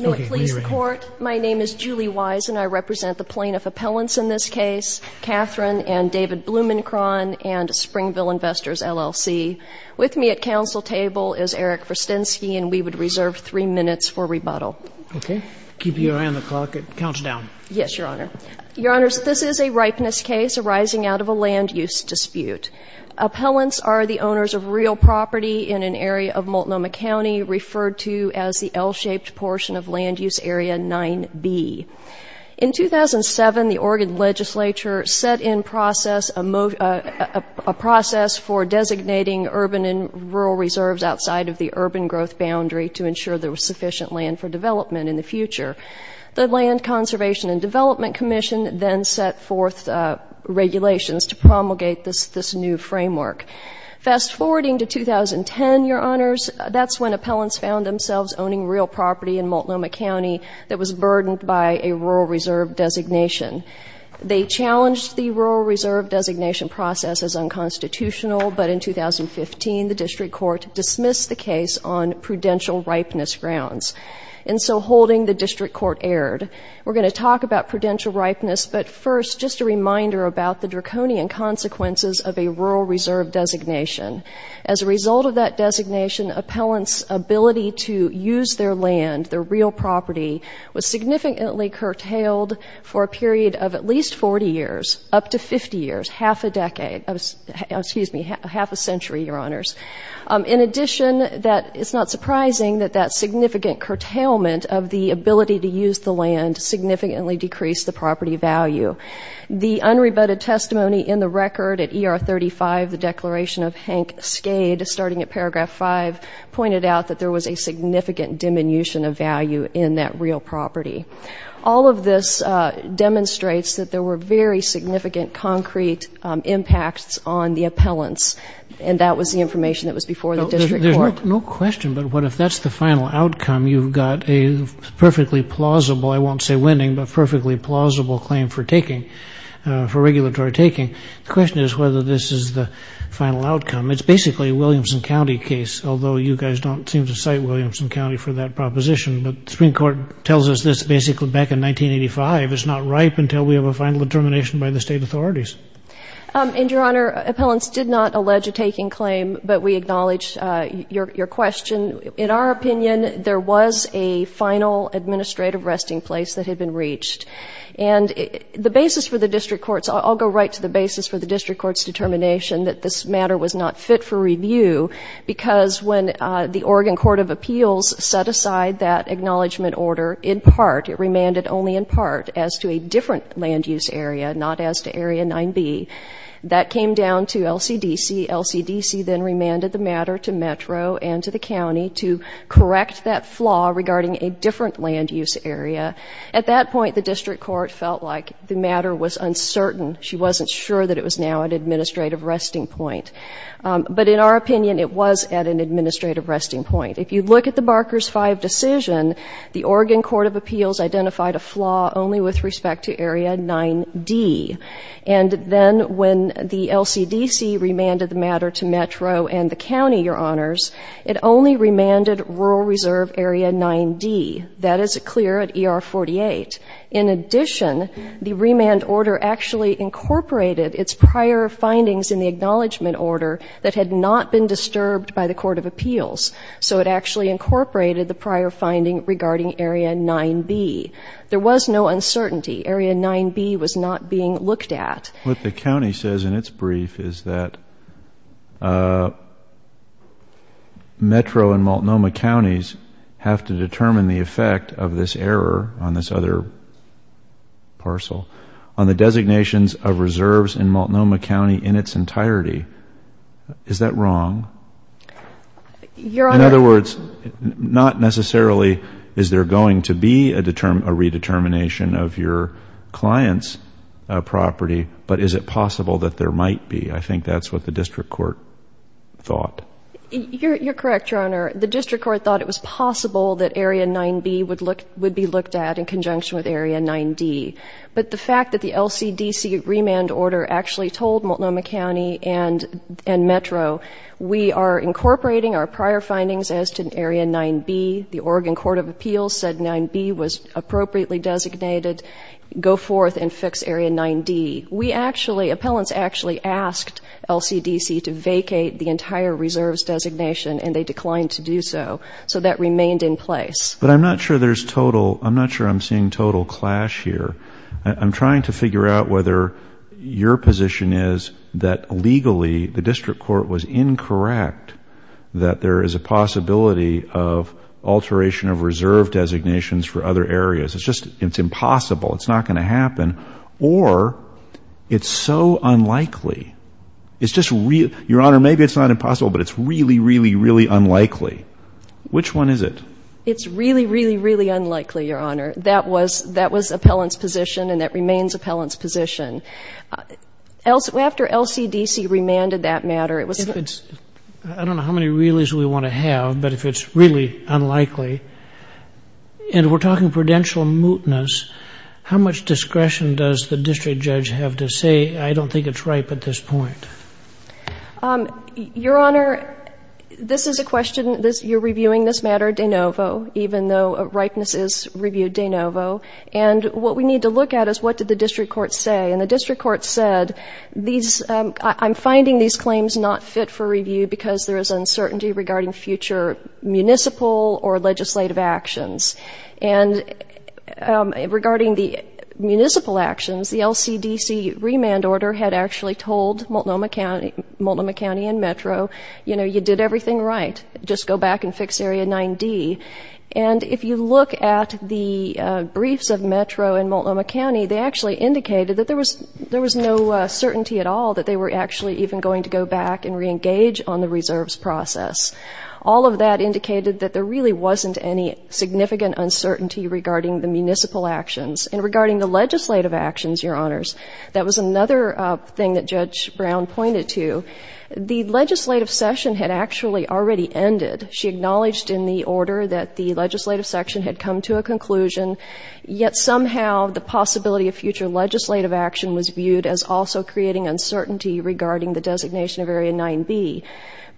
My name is Julie Wise and I represent the plaintiff appellants in this case, Catherine and David Blumenkron and Springville Investors, LLC. With me at counsel table is Eric Verstynsky and we would reserve three minutes for rebuttal. Okay, keep your eye on the clock, it counts down. Yes, your honor. Your honors, this is a ripeness case arising out of a land-use dispute. Appellants are the owners of real property in an area of Multnomah County referred to as the L-shaped portion of land-use area 9B. In 2007, the Oregon Legislature set in process a process for designating urban and rural reserves outside of the urban growth boundary to ensure there was sufficient land for development in the future. The Land Conservation and Development Commission then set forth regulations to promulgate this new framework. Fast-forwarding to 2010, your honors, that's when appellants found themselves owning real property in Multnomah County that was burdened by a rural reserve designation. They challenged the rural reserve designation process as unconstitutional, but in 2015 the district court dismissed the case on prudential ripeness grounds. And so holding, the district court erred. We're going to talk about prudential ripeness, but first just a reminder about the draconian consequences of a rural designation. Appellants' ability to use their land, their real property, was significantly curtailed for a period of at least 40 years, up to 50 years, half a decade, excuse me, half a century, your honors. In addition, it's not surprising that that significant curtailment of the ability to use the land significantly decreased the property value. The unrebutted testimony in the record at ER 35, the declaration of Hank Skade, starting at paragraph 5, pointed out that there was a significant diminution of value in that real property. All of this demonstrates that there were very significant concrete impacts on the appellants, and that was the information that was before the district court. There's no question, but what if that's the final outcome, you've got a perfectly plausible, I won't say winning, but perfectly plausible claim for regulatory taking. The question is whether this is the final outcome. It's basically a Williamson County case, although you guys don't seem to cite Williamson County for that proposition, but the Supreme Court tells us this basically back in 1985. It's not ripe until we have a final determination by the state authorities. And your honor, appellants did not allege a taking claim, but we acknowledge your question. In our opinion, there was a final administrative resting place that had been reached. And the basis for the district court's, I'll go right to the basis for the district court's determination that this matter was not fit for review, because when the Oregon Court of Appeals set aside that acknowledgment order in part, it remanded only in part, as to a different land use area, not as to area 9b. That came down to LCDC. LCDC then remanded the matter to Metro and to the county to correct that flaw regarding a different land use area. At that point, the district court felt like the matter was uncertain. She wasn't sure that it was now an administrative resting point. But in our opinion, it was at an administrative resting point. If you look at the Barker's 5 decision, the Oregon Court of Appeals identified a flaw only with respect to area 9d. And then when the LCDC remanded the matter to Metro and the county, your honors, it only remanded rural reserve area 9d. That is clear at ER 48. In addition, the remand order actually incorporated its prior findings in the acknowledgment order that had not been disturbed by the Court of Appeals. So it actually incorporated the prior finding regarding area 9b. There was no uncertainty. Area 9b was not being looked at. What the county says in its brief is that Metro and Multnomah counties have to determine the effect of this error on this other parcel on the designations of reserves in Multnomah County in its entirety. Is that wrong? Your honor... In other words, not necessarily is there going to be a redetermination of your client's property, but is it possible that there might be? I think that's what the district court thought. You're correct, your honor. The district court thought it was possible that area 9b would look would be looked at in conjunction with area 9d. But the fact that the LCDC remand order actually told Multnomah County and and Metro, we are incorporating our prior findings as to area 9b. The Oregon Court of Appeals said 9b was appropriately designated. Go forth and fix area 9d. We actually, appellants actually asked LCDC to vacate the entire reserves designation and they declined to do so. So that remained in place. But I'm not sure there's total, I'm not sure I'm seeing total clash here. I'm trying to figure out whether your position is that legally the district court was incorrect, that there is a possibility of areas, it's just it's impossible, it's not going to happen, or it's so unlikely. It's just real, your honor, maybe it's not impossible, but it's really, really, really unlikely. Which one is it? It's really, really, really unlikely, your honor. That was, that was appellant's position and that remains appellant's position. After LCDC remanded that matter, it was... I don't know how many really's we want to have, but if it's really unlikely, and we're talking prudential mootness, how much discretion does the district judge have to say, I don't think it's ripe at this point? Your honor, this is a question, this, you're reviewing this matter de novo, even though ripeness is reviewed de novo, and what we need to look at is what did the district court say. And the district court said, these, I'm finding these claims not fit for review because there is uncertainty regarding future municipal or legislative actions. And regarding the municipal actions, the LCDC remand order had actually told Multnomah County, Multnomah County and Metro, you know, you did everything right, just go back and fix Area 9D. And if you look at the briefs of Metro and Multnomah County, they actually indicated that there was, there was no certainty at all that they were actually even going to go back and re-engage on the reserves process. All of that indicated that there really wasn't any significant uncertainty regarding the municipal actions. And regarding the legislative actions, your honors, that was another thing that Judge Brown pointed to. The legislative session had actually already ended. She acknowledged in the order that the legislative section had come to a conclusion, yet somehow the possibility of future legislative action was viewed as also creating uncertainty regarding the designation of Area 9B.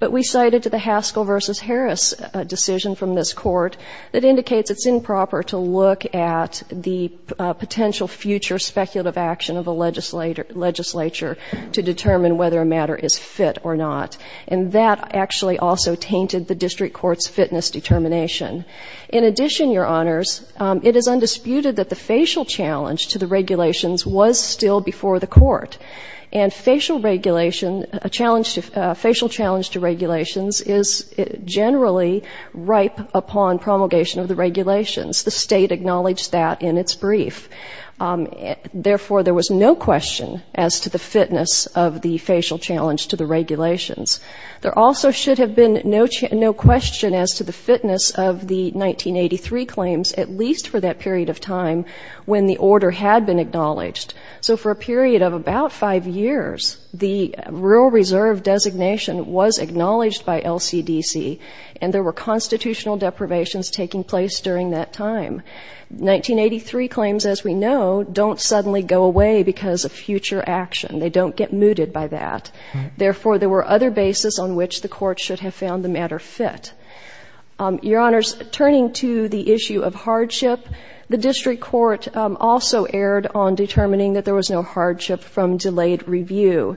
But we cited to the Haskell v. Harris decision from this court that indicates it's improper to look at the potential future speculative action of a legislature to determine whether a matter is fit or not. And that actually also tainted the district court's fitness determination. In addition, your honors, it is undisputed that the facial challenge to the regulations was still before the court. And facial regulation, a challenge to, a facial challenge to regulations is generally ripe upon promulgation of the regulations. The State acknowledged that in its brief. Therefore, there was no question as to the fitness of the facial challenge to the regulations. There also should have been no question as to the fitness of the 1983 claims, at least for that period of time when the order had been acknowledged. So for a period of about five years, the real reserve designation was acknowledged by LCDC, and there were constitutional deprivations taking place during that time. 1983 claims, as we know, don't suddenly go away because of future action. They don't get mooted by that. Therefore, there were other bases on which the court should have found the matter fit. Your honors, turning to the issue of hardship, the district court also erred on determining that there was no hardship from delayed review.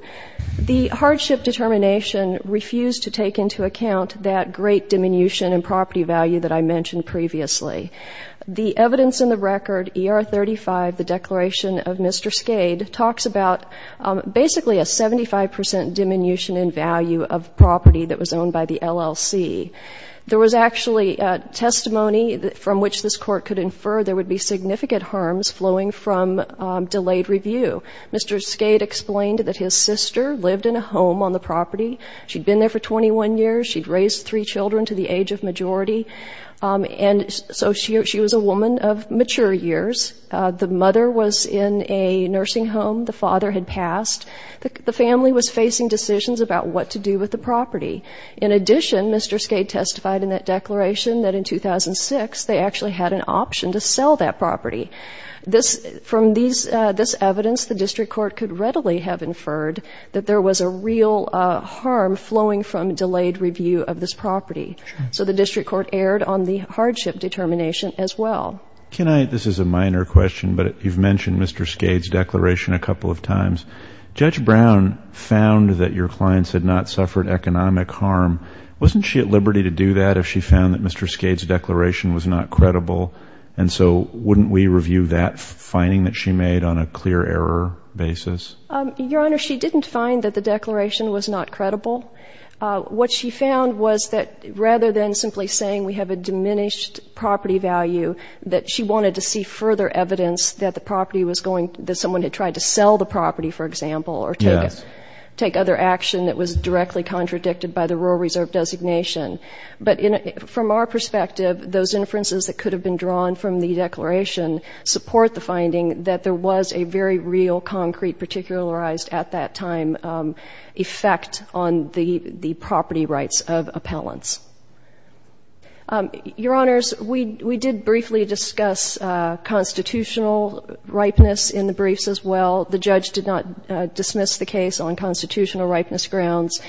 The hardship determination refused to take into account that great diminution in property value that I mentioned previously. The evidence in the record, ER 35, the declaration of Mr. Skade's value of property that was owned by the LLC. There was actually testimony from which this court could infer there would be significant harms flowing from delayed review. Mr. Skade explained that his sister lived in a home on the property. She'd been there for 21 years. She'd raised three children to the age of majority. And so she was a woman of mature years. The mother was in a nursing home. The father had passed. The family was facing decisions about what to do with the property. In addition, Mr. Skade testified in that declaration that in 2006 they actually had an option to sell that property. From this evidence, the district court could readily have inferred that there was a real harm flowing from delayed review of this property. So the district court erred on the hardship determination as well. Can I, this is a question about Mr. Skade's declaration a couple of times. Judge Brown found that your clients had not suffered economic harm. Wasn't she at liberty to do that if she found that Mr. Skade's declaration was not credible? And so wouldn't we review that finding that she made on a clear error basis? Your Honor, she didn't find that the declaration was not credible. What she found was that rather than simply saying we have a diminished property value, that she wanted to see further evidence that the property was going, that someone had tried to sell the property, for example, or take other action that was directly contradicted by the Rural Reserve designation. But from our perspective, those inferences that could have been drawn from the declaration support the finding that there was a very real, concrete, particularized, at that time, effect on the property rights of appellants. Your Honors, we did briefly discuss constitutional ripeness in the briefs as well. The judge did not dismiss the case on constitutional ripeness grounds.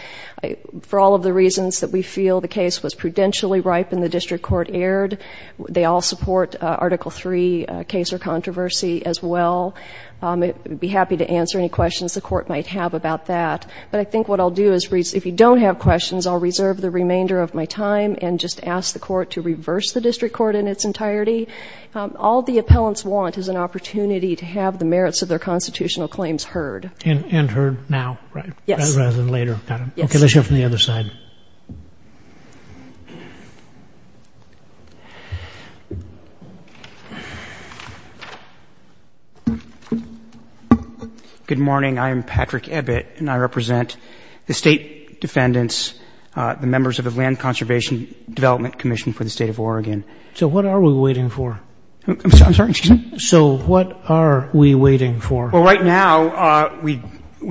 For all of the reasons that we feel the case was prudentially ripe and the district court erred, they all support Article III case or controversy as well. I'd be happy to answer any questions the court might have about that. But I think what I'll do is, if you don't have questions, I'll reserve the remainder of my time and just ask the All the appellants want is an opportunity to have the merits of their constitutional claims heard. And heard now, rather than later. Okay, let's hear from the other side. Good morning. I am Patrick Ebbett, and I represent the State Defendants, the members of the Land Conservation Development Commission for the State of I'm sorry, excuse me? So what are we waiting for? Well, right now, we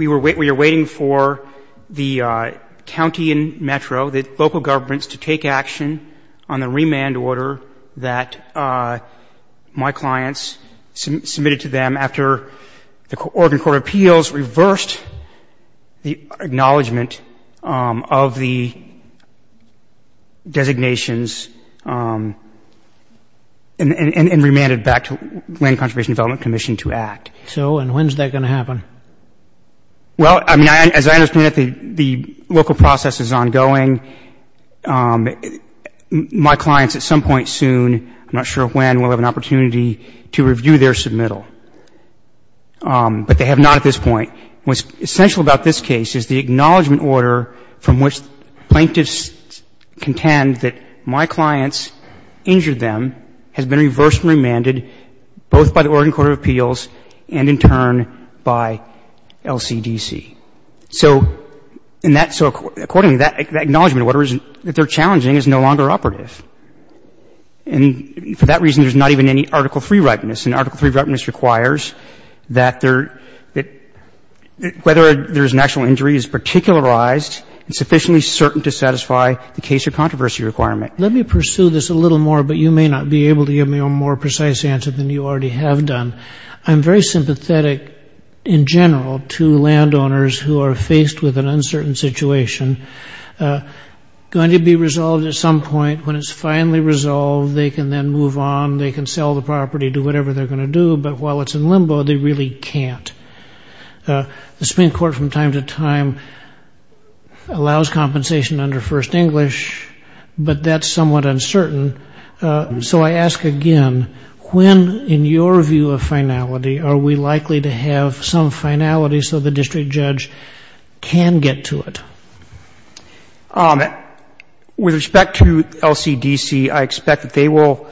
were waiting, we are waiting for the county and metro, the local governments to take action on the remand order that my clients submitted to them after the Oregon Court of Appeals reversed the acknowledgment of the designations and remanded back to Land Conservation Development Commission to act. So, and when's that going to happen? Well, I mean, as I understand it, the local process is ongoing. My clients, at some point soon, I'm not sure when, will have an But they have not at this point. What's essential about this case is the acknowledgment order from which plaintiffs contend that my clients injured them has been reversed and remanded both by the Oregon Court of Appeals and, in turn, by LCDC. So, and that so accordingly, that acknowledgment order isn't, that they're challenging is no longer operative. And for that reason, there's not even any Article III ripeness. And Article III ripeness requires that there, that whether there's an actual injury is particularized and sufficiently certain to satisfy the case or controversy requirement. Let me pursue this a little more, but you may not be able to give me a more precise answer than you already have done. I'm very sympathetic, in general, to landowners who are faced with an uncertain situation, going to be resolved at some point. When it's finally resolved, they can then move on. They can But while it's in limbo, they really can't. The Supreme Court, from time to time, allows compensation under First English, but that's somewhat uncertain. So I ask again, when, in your view of finality, are we likely to have some finality so the district judge can get to it? With respect to LCDC, I expect that they will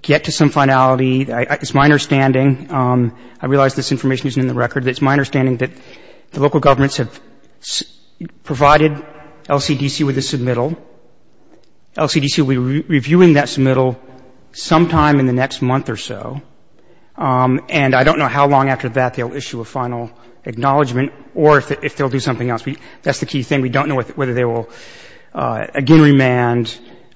get to some finality. It's my understanding, I realize this information isn't in the record, but it's my understanding that the local governments have provided LCDC with a submittal. LCDC will be reviewing that submittal sometime in the next month or so. And I don't know how long after that they'll issue a final acknowledgment or if they'll do something else. That's the key thing. We don't know whether they will again remand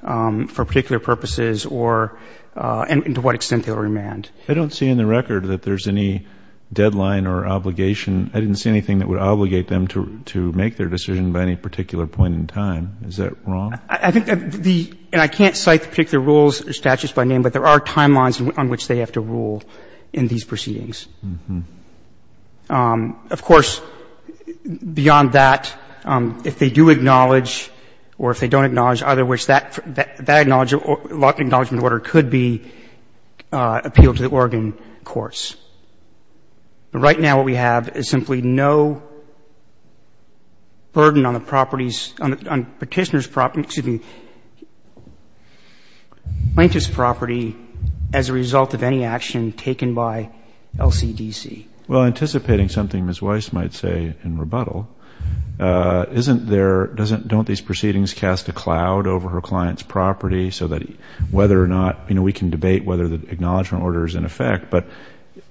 for particular purposes or and to what extent they'll remand. I don't see in the record that there's any deadline or obligation. I didn't see anything that would obligate them to make their decision by any particular point in time. Is that wrong? I think the — and I can't cite the particular rules or statutes by name, but there are timelines on which they have to rule in these proceedings. Of course, beyond that, if they do acknowledge or if they don't acknowledge, either of which that acknowledgment order could be appealed to the Oregon courts. But right now what we have is simply no burden on the property's — on Petitioner's property — excuse me, Plaintiff's property as a result of any action taken by LCDC. Well, anticipating something Ms. Weiss might say in rebuttal, isn't there — doesn't these proceedings cast a cloud over her client's property so that whether or not — you know, we can debate whether the acknowledgment order is in effect, but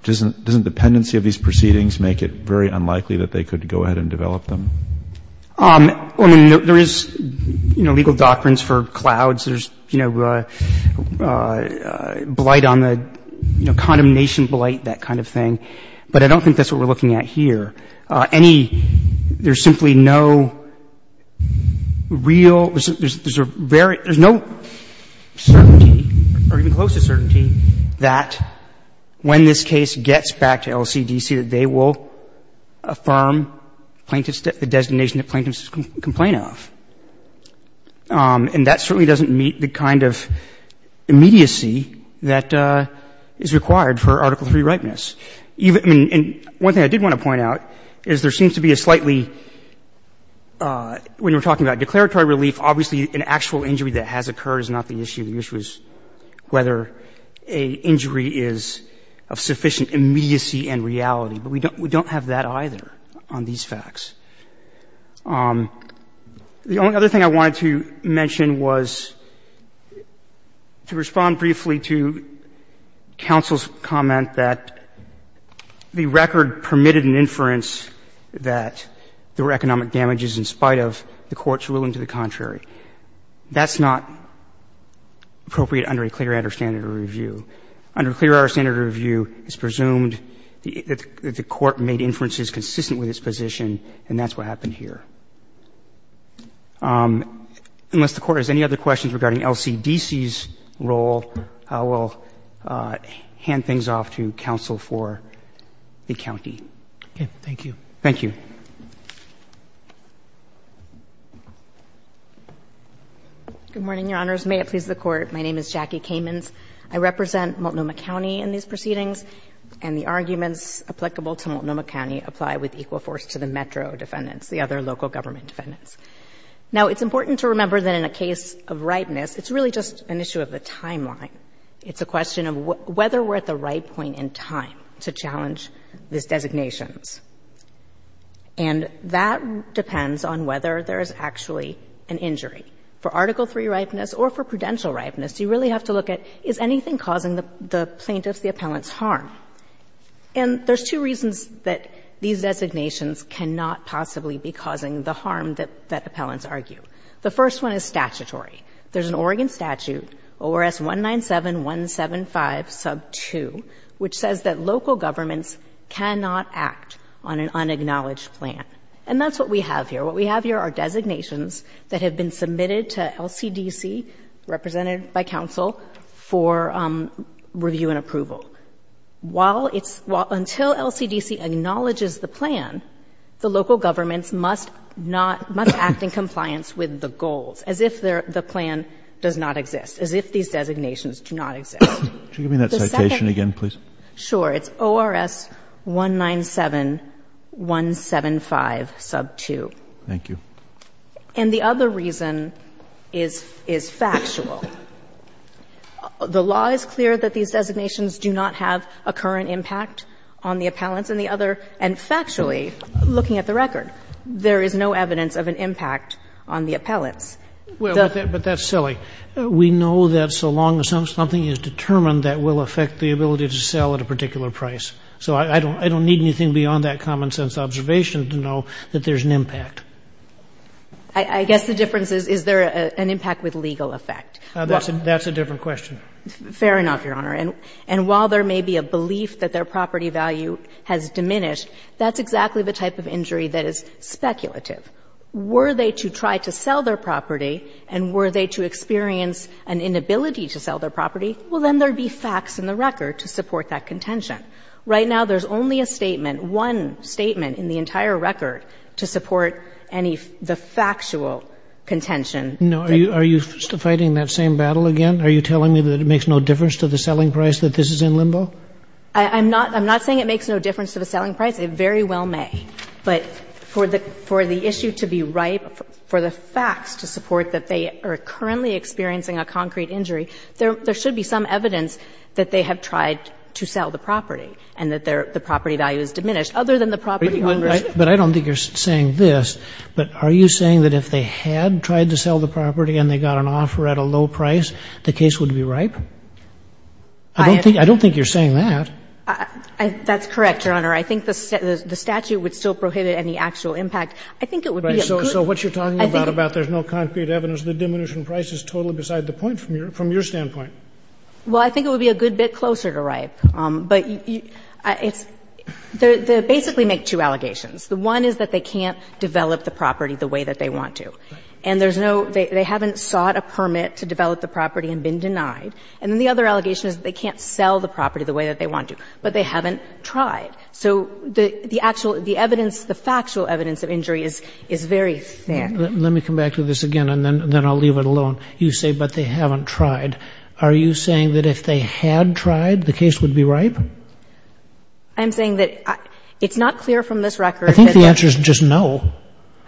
doesn't the pendency of these proceedings make it very unlikely that they could go ahead and develop them? I mean, there is, you know, legal doctrines for clouds. There's, you know, blight on the — you know, condemnation blight, that kind of thing. But I don't think that's what we're looking at here. Any — there's simply no real — there's a very — there's no certainty or even close to certainty that when this case gets back to LCDC that they will affirm Plaintiff's — the designation that Plaintiff's can complain of. And that certainly doesn't meet the kind of immediacy that is required for Article III ripeness. And one thing I did want to point out is there seems to be a slightly — when we're talking about declaratory relief, obviously an actual injury that has occurred is not the issue. The issue is whether an injury is of sufficient immediacy and reality. But we don't have that either on these facts. The only other thing I wanted to mention was to respond briefly to counsel's comment that the record permitted an inference that there were economic damages in spite of the Court's ruling to the contrary. That's not appropriate under a clear standard of review. Under a clear standard of review, it's presumed that the Court made inferences consistent with its position, and that's what happened here. Unless the Court has any other questions regarding LCDC's role, I will hand things off to counsel for the county. Roberts. Okay. Thank you. Thank you. Good morning, Your Honors. May it please the Court. My name is Jackie Kamens. I represent Multnomah County in these proceedings, and the arguments applicable to Multnomah County apply with equal force to the Metro defendants, the other local government defendants. Now, it's important to remember that in a case of ripeness, it's really just an issue of the timeline. It's a question of whether we're at the right point in time to challenge these designations. And that depends on whether there is actually an injury. For Article III ripeness or for prudential ripeness, you really have to look at, is anything causing the plaintiff's, the appellant's harm? And there's two reasons that these designations cannot possibly be causing the harm that appellants argue. The first one is statutory. There's an Oregon statute, ORS 197-175, sub 2, which says that local governments cannot act on an unacknowledged plan. And that's what we have here. What we have here are designations that have been submitted to LCDC, represented by counsel, for review and approval. While it's, until LCDC acknowledges the plan, the local governments must not, must not act in compliance with the goals, as if the plan does not exist, as if these designations do not exist. Could you give me that citation again, please? Sure. It's ORS 197-175, sub 2. Thank you. And the other reason is factual. The law is clear that these designations do not have a current impact on the appellants. And the other, and factually, looking at the record, there is no evidence of an impact on the appellants. Well, but that's silly. We know that so long as something is determined, that will affect the ability to sell at a particular price. So I don't need anything beyond that common-sense observation to know that there's an impact. I guess the difference is, is there an impact with legal effect? That's a different question. Fair enough, Your Honor. And while there may be a belief that their property value has diminished, that's exactly the type of injury that is speculative. Were they to try to sell their property, and were they to experience an inability to sell their property, well, then there would be facts in the record to support that contention. Right now, there's only a statement, one statement in the entire record to support any, the factual contention. No. Are you fighting that same battle again? Are you telling me that it makes no difference to the selling price, that this is in limbo? I'm not, I'm not saying it makes no difference to the selling price. It very well may. But for the, for the issue to be ripe, for the facts to support that they are currently experiencing a concrete injury, there, there should be some evidence that they have tried to sell the property and that their, the property value has diminished. Other than the property ownership. But I don't think you're saying this, but are you saying that if they had tried to sell the property and they got an offer at a low price, the case would be ripe? I don't think. I don't think you're saying that. That's correct, Your Honor. I think the statute would still prohibit any actual impact. I think it would be a good. Right. So what you're talking about, about there's no concrete evidence, the diminution price is totally beside the point from your, from your standpoint. Well, I think it would be a good bit closer to ripe. But it's, they basically make two allegations. The one is that they can't develop the property the way that they want to. And there's no, they haven't sought a permit to develop the property and been denied. And then the other allegation is that they can't sell the property the way that they want to, but they haven't tried. So the, the actual, the evidence, the factual evidence of injury is, is very thin. Let me come back to this again, and then I'll leave it alone. You say, but they haven't tried. Are you saying that if they had tried, the case would be ripe? I'm saying that it's not clear from this record. I think the answer is just no.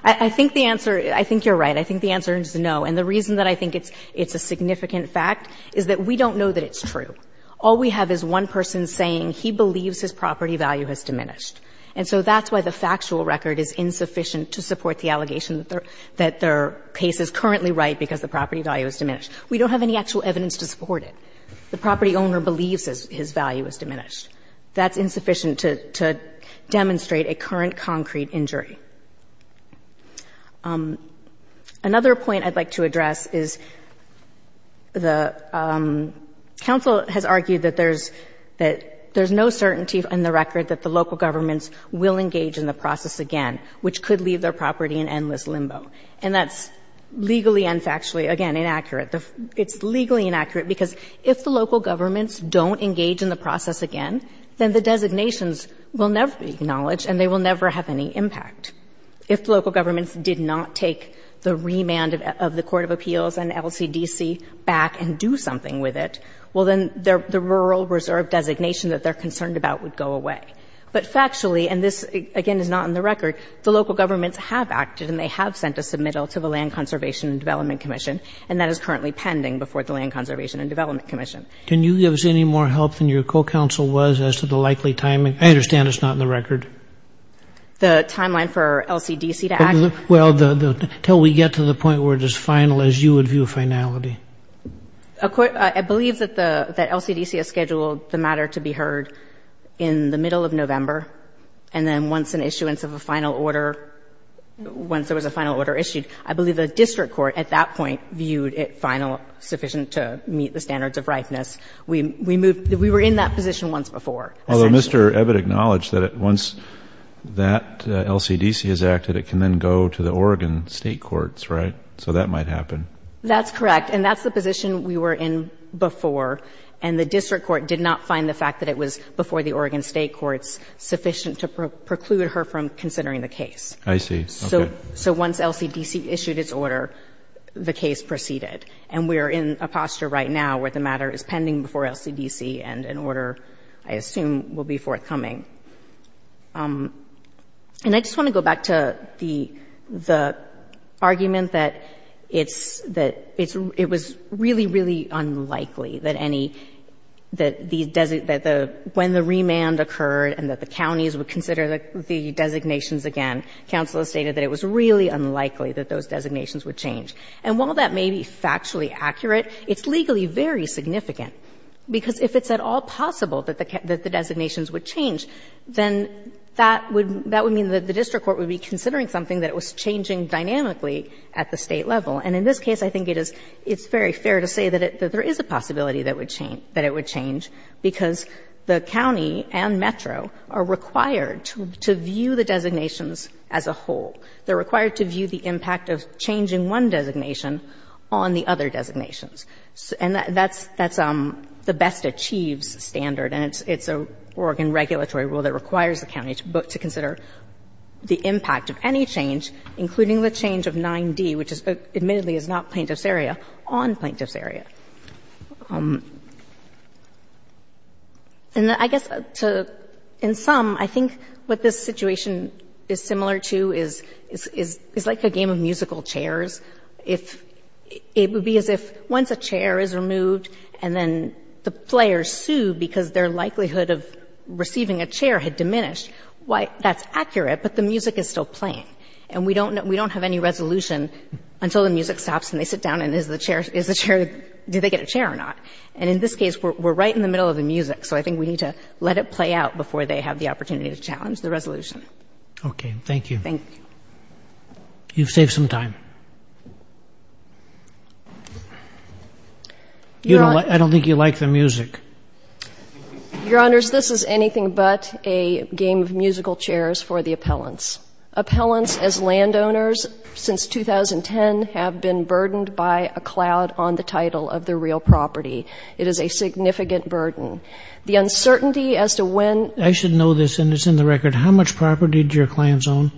I think the answer, I think you're right. I think the answer is no. And the reason that I think it's, it's a significant fact is that we don't know that it's true. All we have is one person saying he believes his property value has diminished. And so that's why the factual record is insufficient to support the allegation that their, that their case is currently ripe because the property value has diminished. We don't have any actual evidence to support it. The property owner believes his, his value has diminished. That's insufficient to, to demonstrate a current concrete injury. Another point I'd like to address is the counsel has argued that there's, that there's no certainty in the record that the local governments will engage in the process again, which could leave their property in endless limbo. And that's legally and factually, again, inaccurate. It's legally inaccurate because if the local governments don't engage in the process again, then the designations will never be acknowledged and they will never have any impact. If local governments did not take the remand of the Court of Appeals and LCDC back and do something with it, well, then the rural reserve designation that they're concerned about would go away. But factually, and this again is not in the record, the local governments have acted and they have sent a submittal to the Land Conservation and Development Commission and that is currently pending before the Land Conservation and Development Commission. Can you give us any more help than your co-counsel was as to the likely timing? I understand it's not in the record. The timeline for LCDC to act? Well, until we get to the point where it is final, as you would view finality. I believe that the, that LCDC has scheduled the matter to be heard in the middle of November and then once an issuance of a final order, once there was a final order issued, I believe the district court at that point viewed it final, sufficient to meet the standards of ripeness. We moved, we were in that position once before. Although Mr. Ebbett acknowledged that once that LCDC has acted, it can then go to the Oregon State Courts, right? So that might happen. That's correct and that's the position we were in before and the district court did not find the fact that it was before the Oregon State Courts sufficient to preclude her from considering the case. I see. Okay. So once LCDC issued its order, the case proceeded. And we are in a posture right now where the matter is pending before LCDC and an order I assume will be forthcoming. And I just want to go back to the argument that it's, that it's, it was really, really unlikely that any, that the, when the remand occurred and that the counties would consider the designations again, counsel has stated that it was really unlikely that those designations would change. And while that may be factually accurate, it's legally very significant, because if it's at all possible that the, that the designations would change, then that would, that would mean that the district court would be considering something that was changing dynamically at the State level. And in this case, I think it is, it's very fair to say that there is a possibility that it would change, because the county and Metro are required to view the designations as a whole. They're required to view the impact of changing one designation on the other designations. And that's, that's the best achieves standard, and it's, it's a Oregon regulatory rule that requires the county to consider the impact of any change, including the change of 9d, which is, admittedly is not plaintiff's area, on plaintiff's area. And I guess to, in sum, I think what this situation is similar to is, is, is like a game of musical chairs. If it would be as if once a chair is removed and then the players sue because their likelihood of receiving a chair had diminished, why, that's accurate, but the music is still playing. And we don't know, we don't have any resolution until the music stops and they get a chair or not. And in this case, we're right in the middle of the music, so I think we need to let it play out before they have the opportunity to challenge the resolution. Okay. Thank you. Thank you. You've saved some time. You don't, I don't think you like the music. Your Honors, this is anything but a game of musical chairs for the appellants. Appellants as landowners since 2010 have been burdened by a cloud on the title of their real property. It is a significant burden. The uncertainty as to when... I should know this, and it's in the record. How much property do your clients own?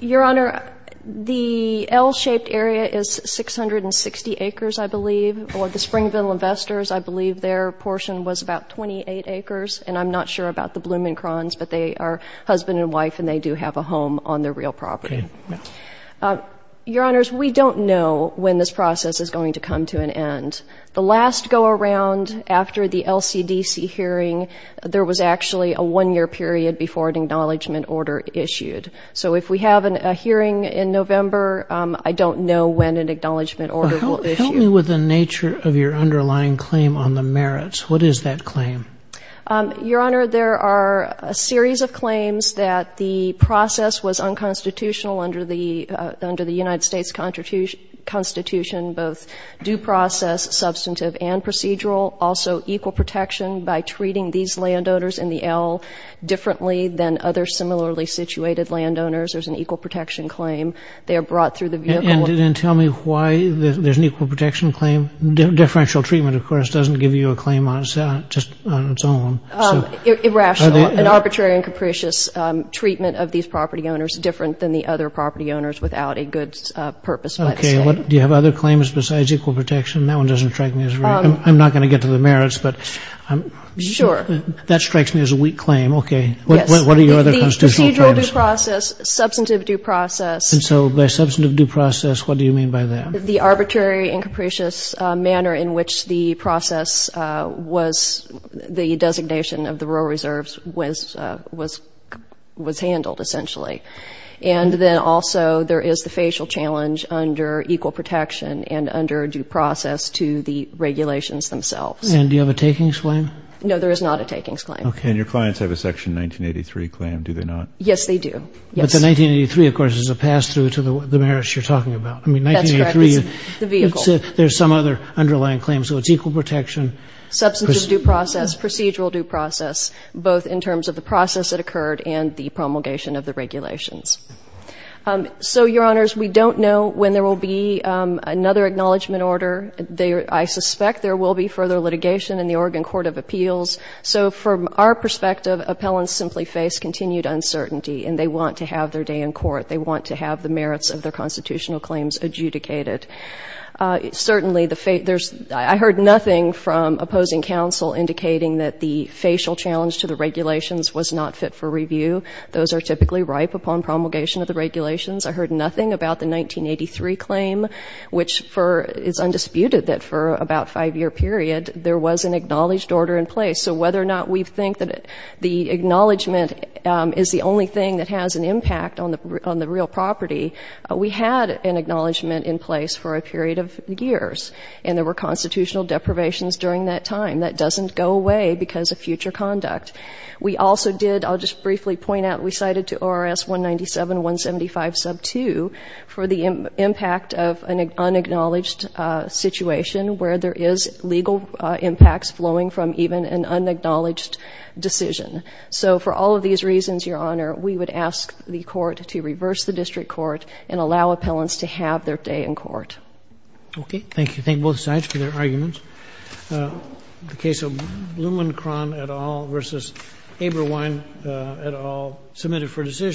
Your Honor, the L-shaped area is 660 acres, I believe, or the Springville Investors, I believe their portion was about 28 acres, and I'm not sure about the L-shaped area, but they do have a home on their real property. Okay. Your Honors, we don't know when this process is going to come to an end. The last go-around after the LCDC hearing, there was actually a one-year period before an acknowledgment order issued. So if we have a hearing in November, I don't know when an acknowledgment order will issue. Help me with the nature of your underlying claim on the merits. What is that claim? Your Honor, there are a series of claims that the process was unconstitutional under the United States Constitution, both due process, substantive, and procedural. Also, equal protection by treating these landowners in the L differently than other similarly situated landowners. There's an equal protection claim. They are brought through the vehicle... And then tell me why there's an equal protection claim. Differential treatment, of course, doesn't give you a claim on its own. Irrational. An arbitrary and capricious treatment of these property owners, different than the other property owners without a good purpose by the state. Do you have other claims besides equal protection? That one doesn't strike me as... I'm not going to get to the merits, but... Sure. That strikes me as a weak claim. Okay. What are your other constitutional claims? The procedural due process, substantive due process... And so by substantive due process, what do you mean by that? The arbitrary and capricious manner in which the process was... the designation of the rural reserves was handled, essentially. And then also there is the facial challenge under equal protection and under due process to the regulations themselves. And do you have a takings claim? No, there is not a takings claim. Okay, and your clients have a Section 1983 claim, do they not? Yes, they do. But the 1983, of course, is a pass-through to the merits you're talking about. I mean, 1983... That's correct. The vehicle. There's some other underlying claim, so it's equal protection. Substantive due process, procedural due process, both in terms of the process that occurred and the promulgation of the regulations. So, Your Honors, we don't know when there will be another acknowledgment order. I suspect there will be further litigation in the Oregon Court of Appeals. So from our perspective, appellants simply face continued uncertainty and they want to have their day in court. They want to have the merits of their constitutional claims adjudicated. Certainly, I heard nothing from opposing counsel indicating that the facial challenge to the regulations was not fit for review. Those are typically ripe upon promulgation of the regulations. I heard nothing about the 1983 claim, which is undisputed that for about a five-year period, there was an acknowledged order in place. So whether or not we think that the acknowledgment is the only thing that has an impact on the real property, we had an acknowledgment in place for a period of years, and there were constitutional deprivations during that time. That doesn't go away because of future conduct. We also did, I'll just briefly point out, we cited to ORS 197-175 sub 2 for the impact of an unacknowledged situation where there is legal impacts flowing from even an unacknowledged decision. So for all of these reasons, Your Honor, we would ask the court to reverse the district court and allow appellants to have their day in court. Okay, thank you. Thank both sides for their arguments. The case of Blumenkron et al. versus Eberwein et al. submitted for decision.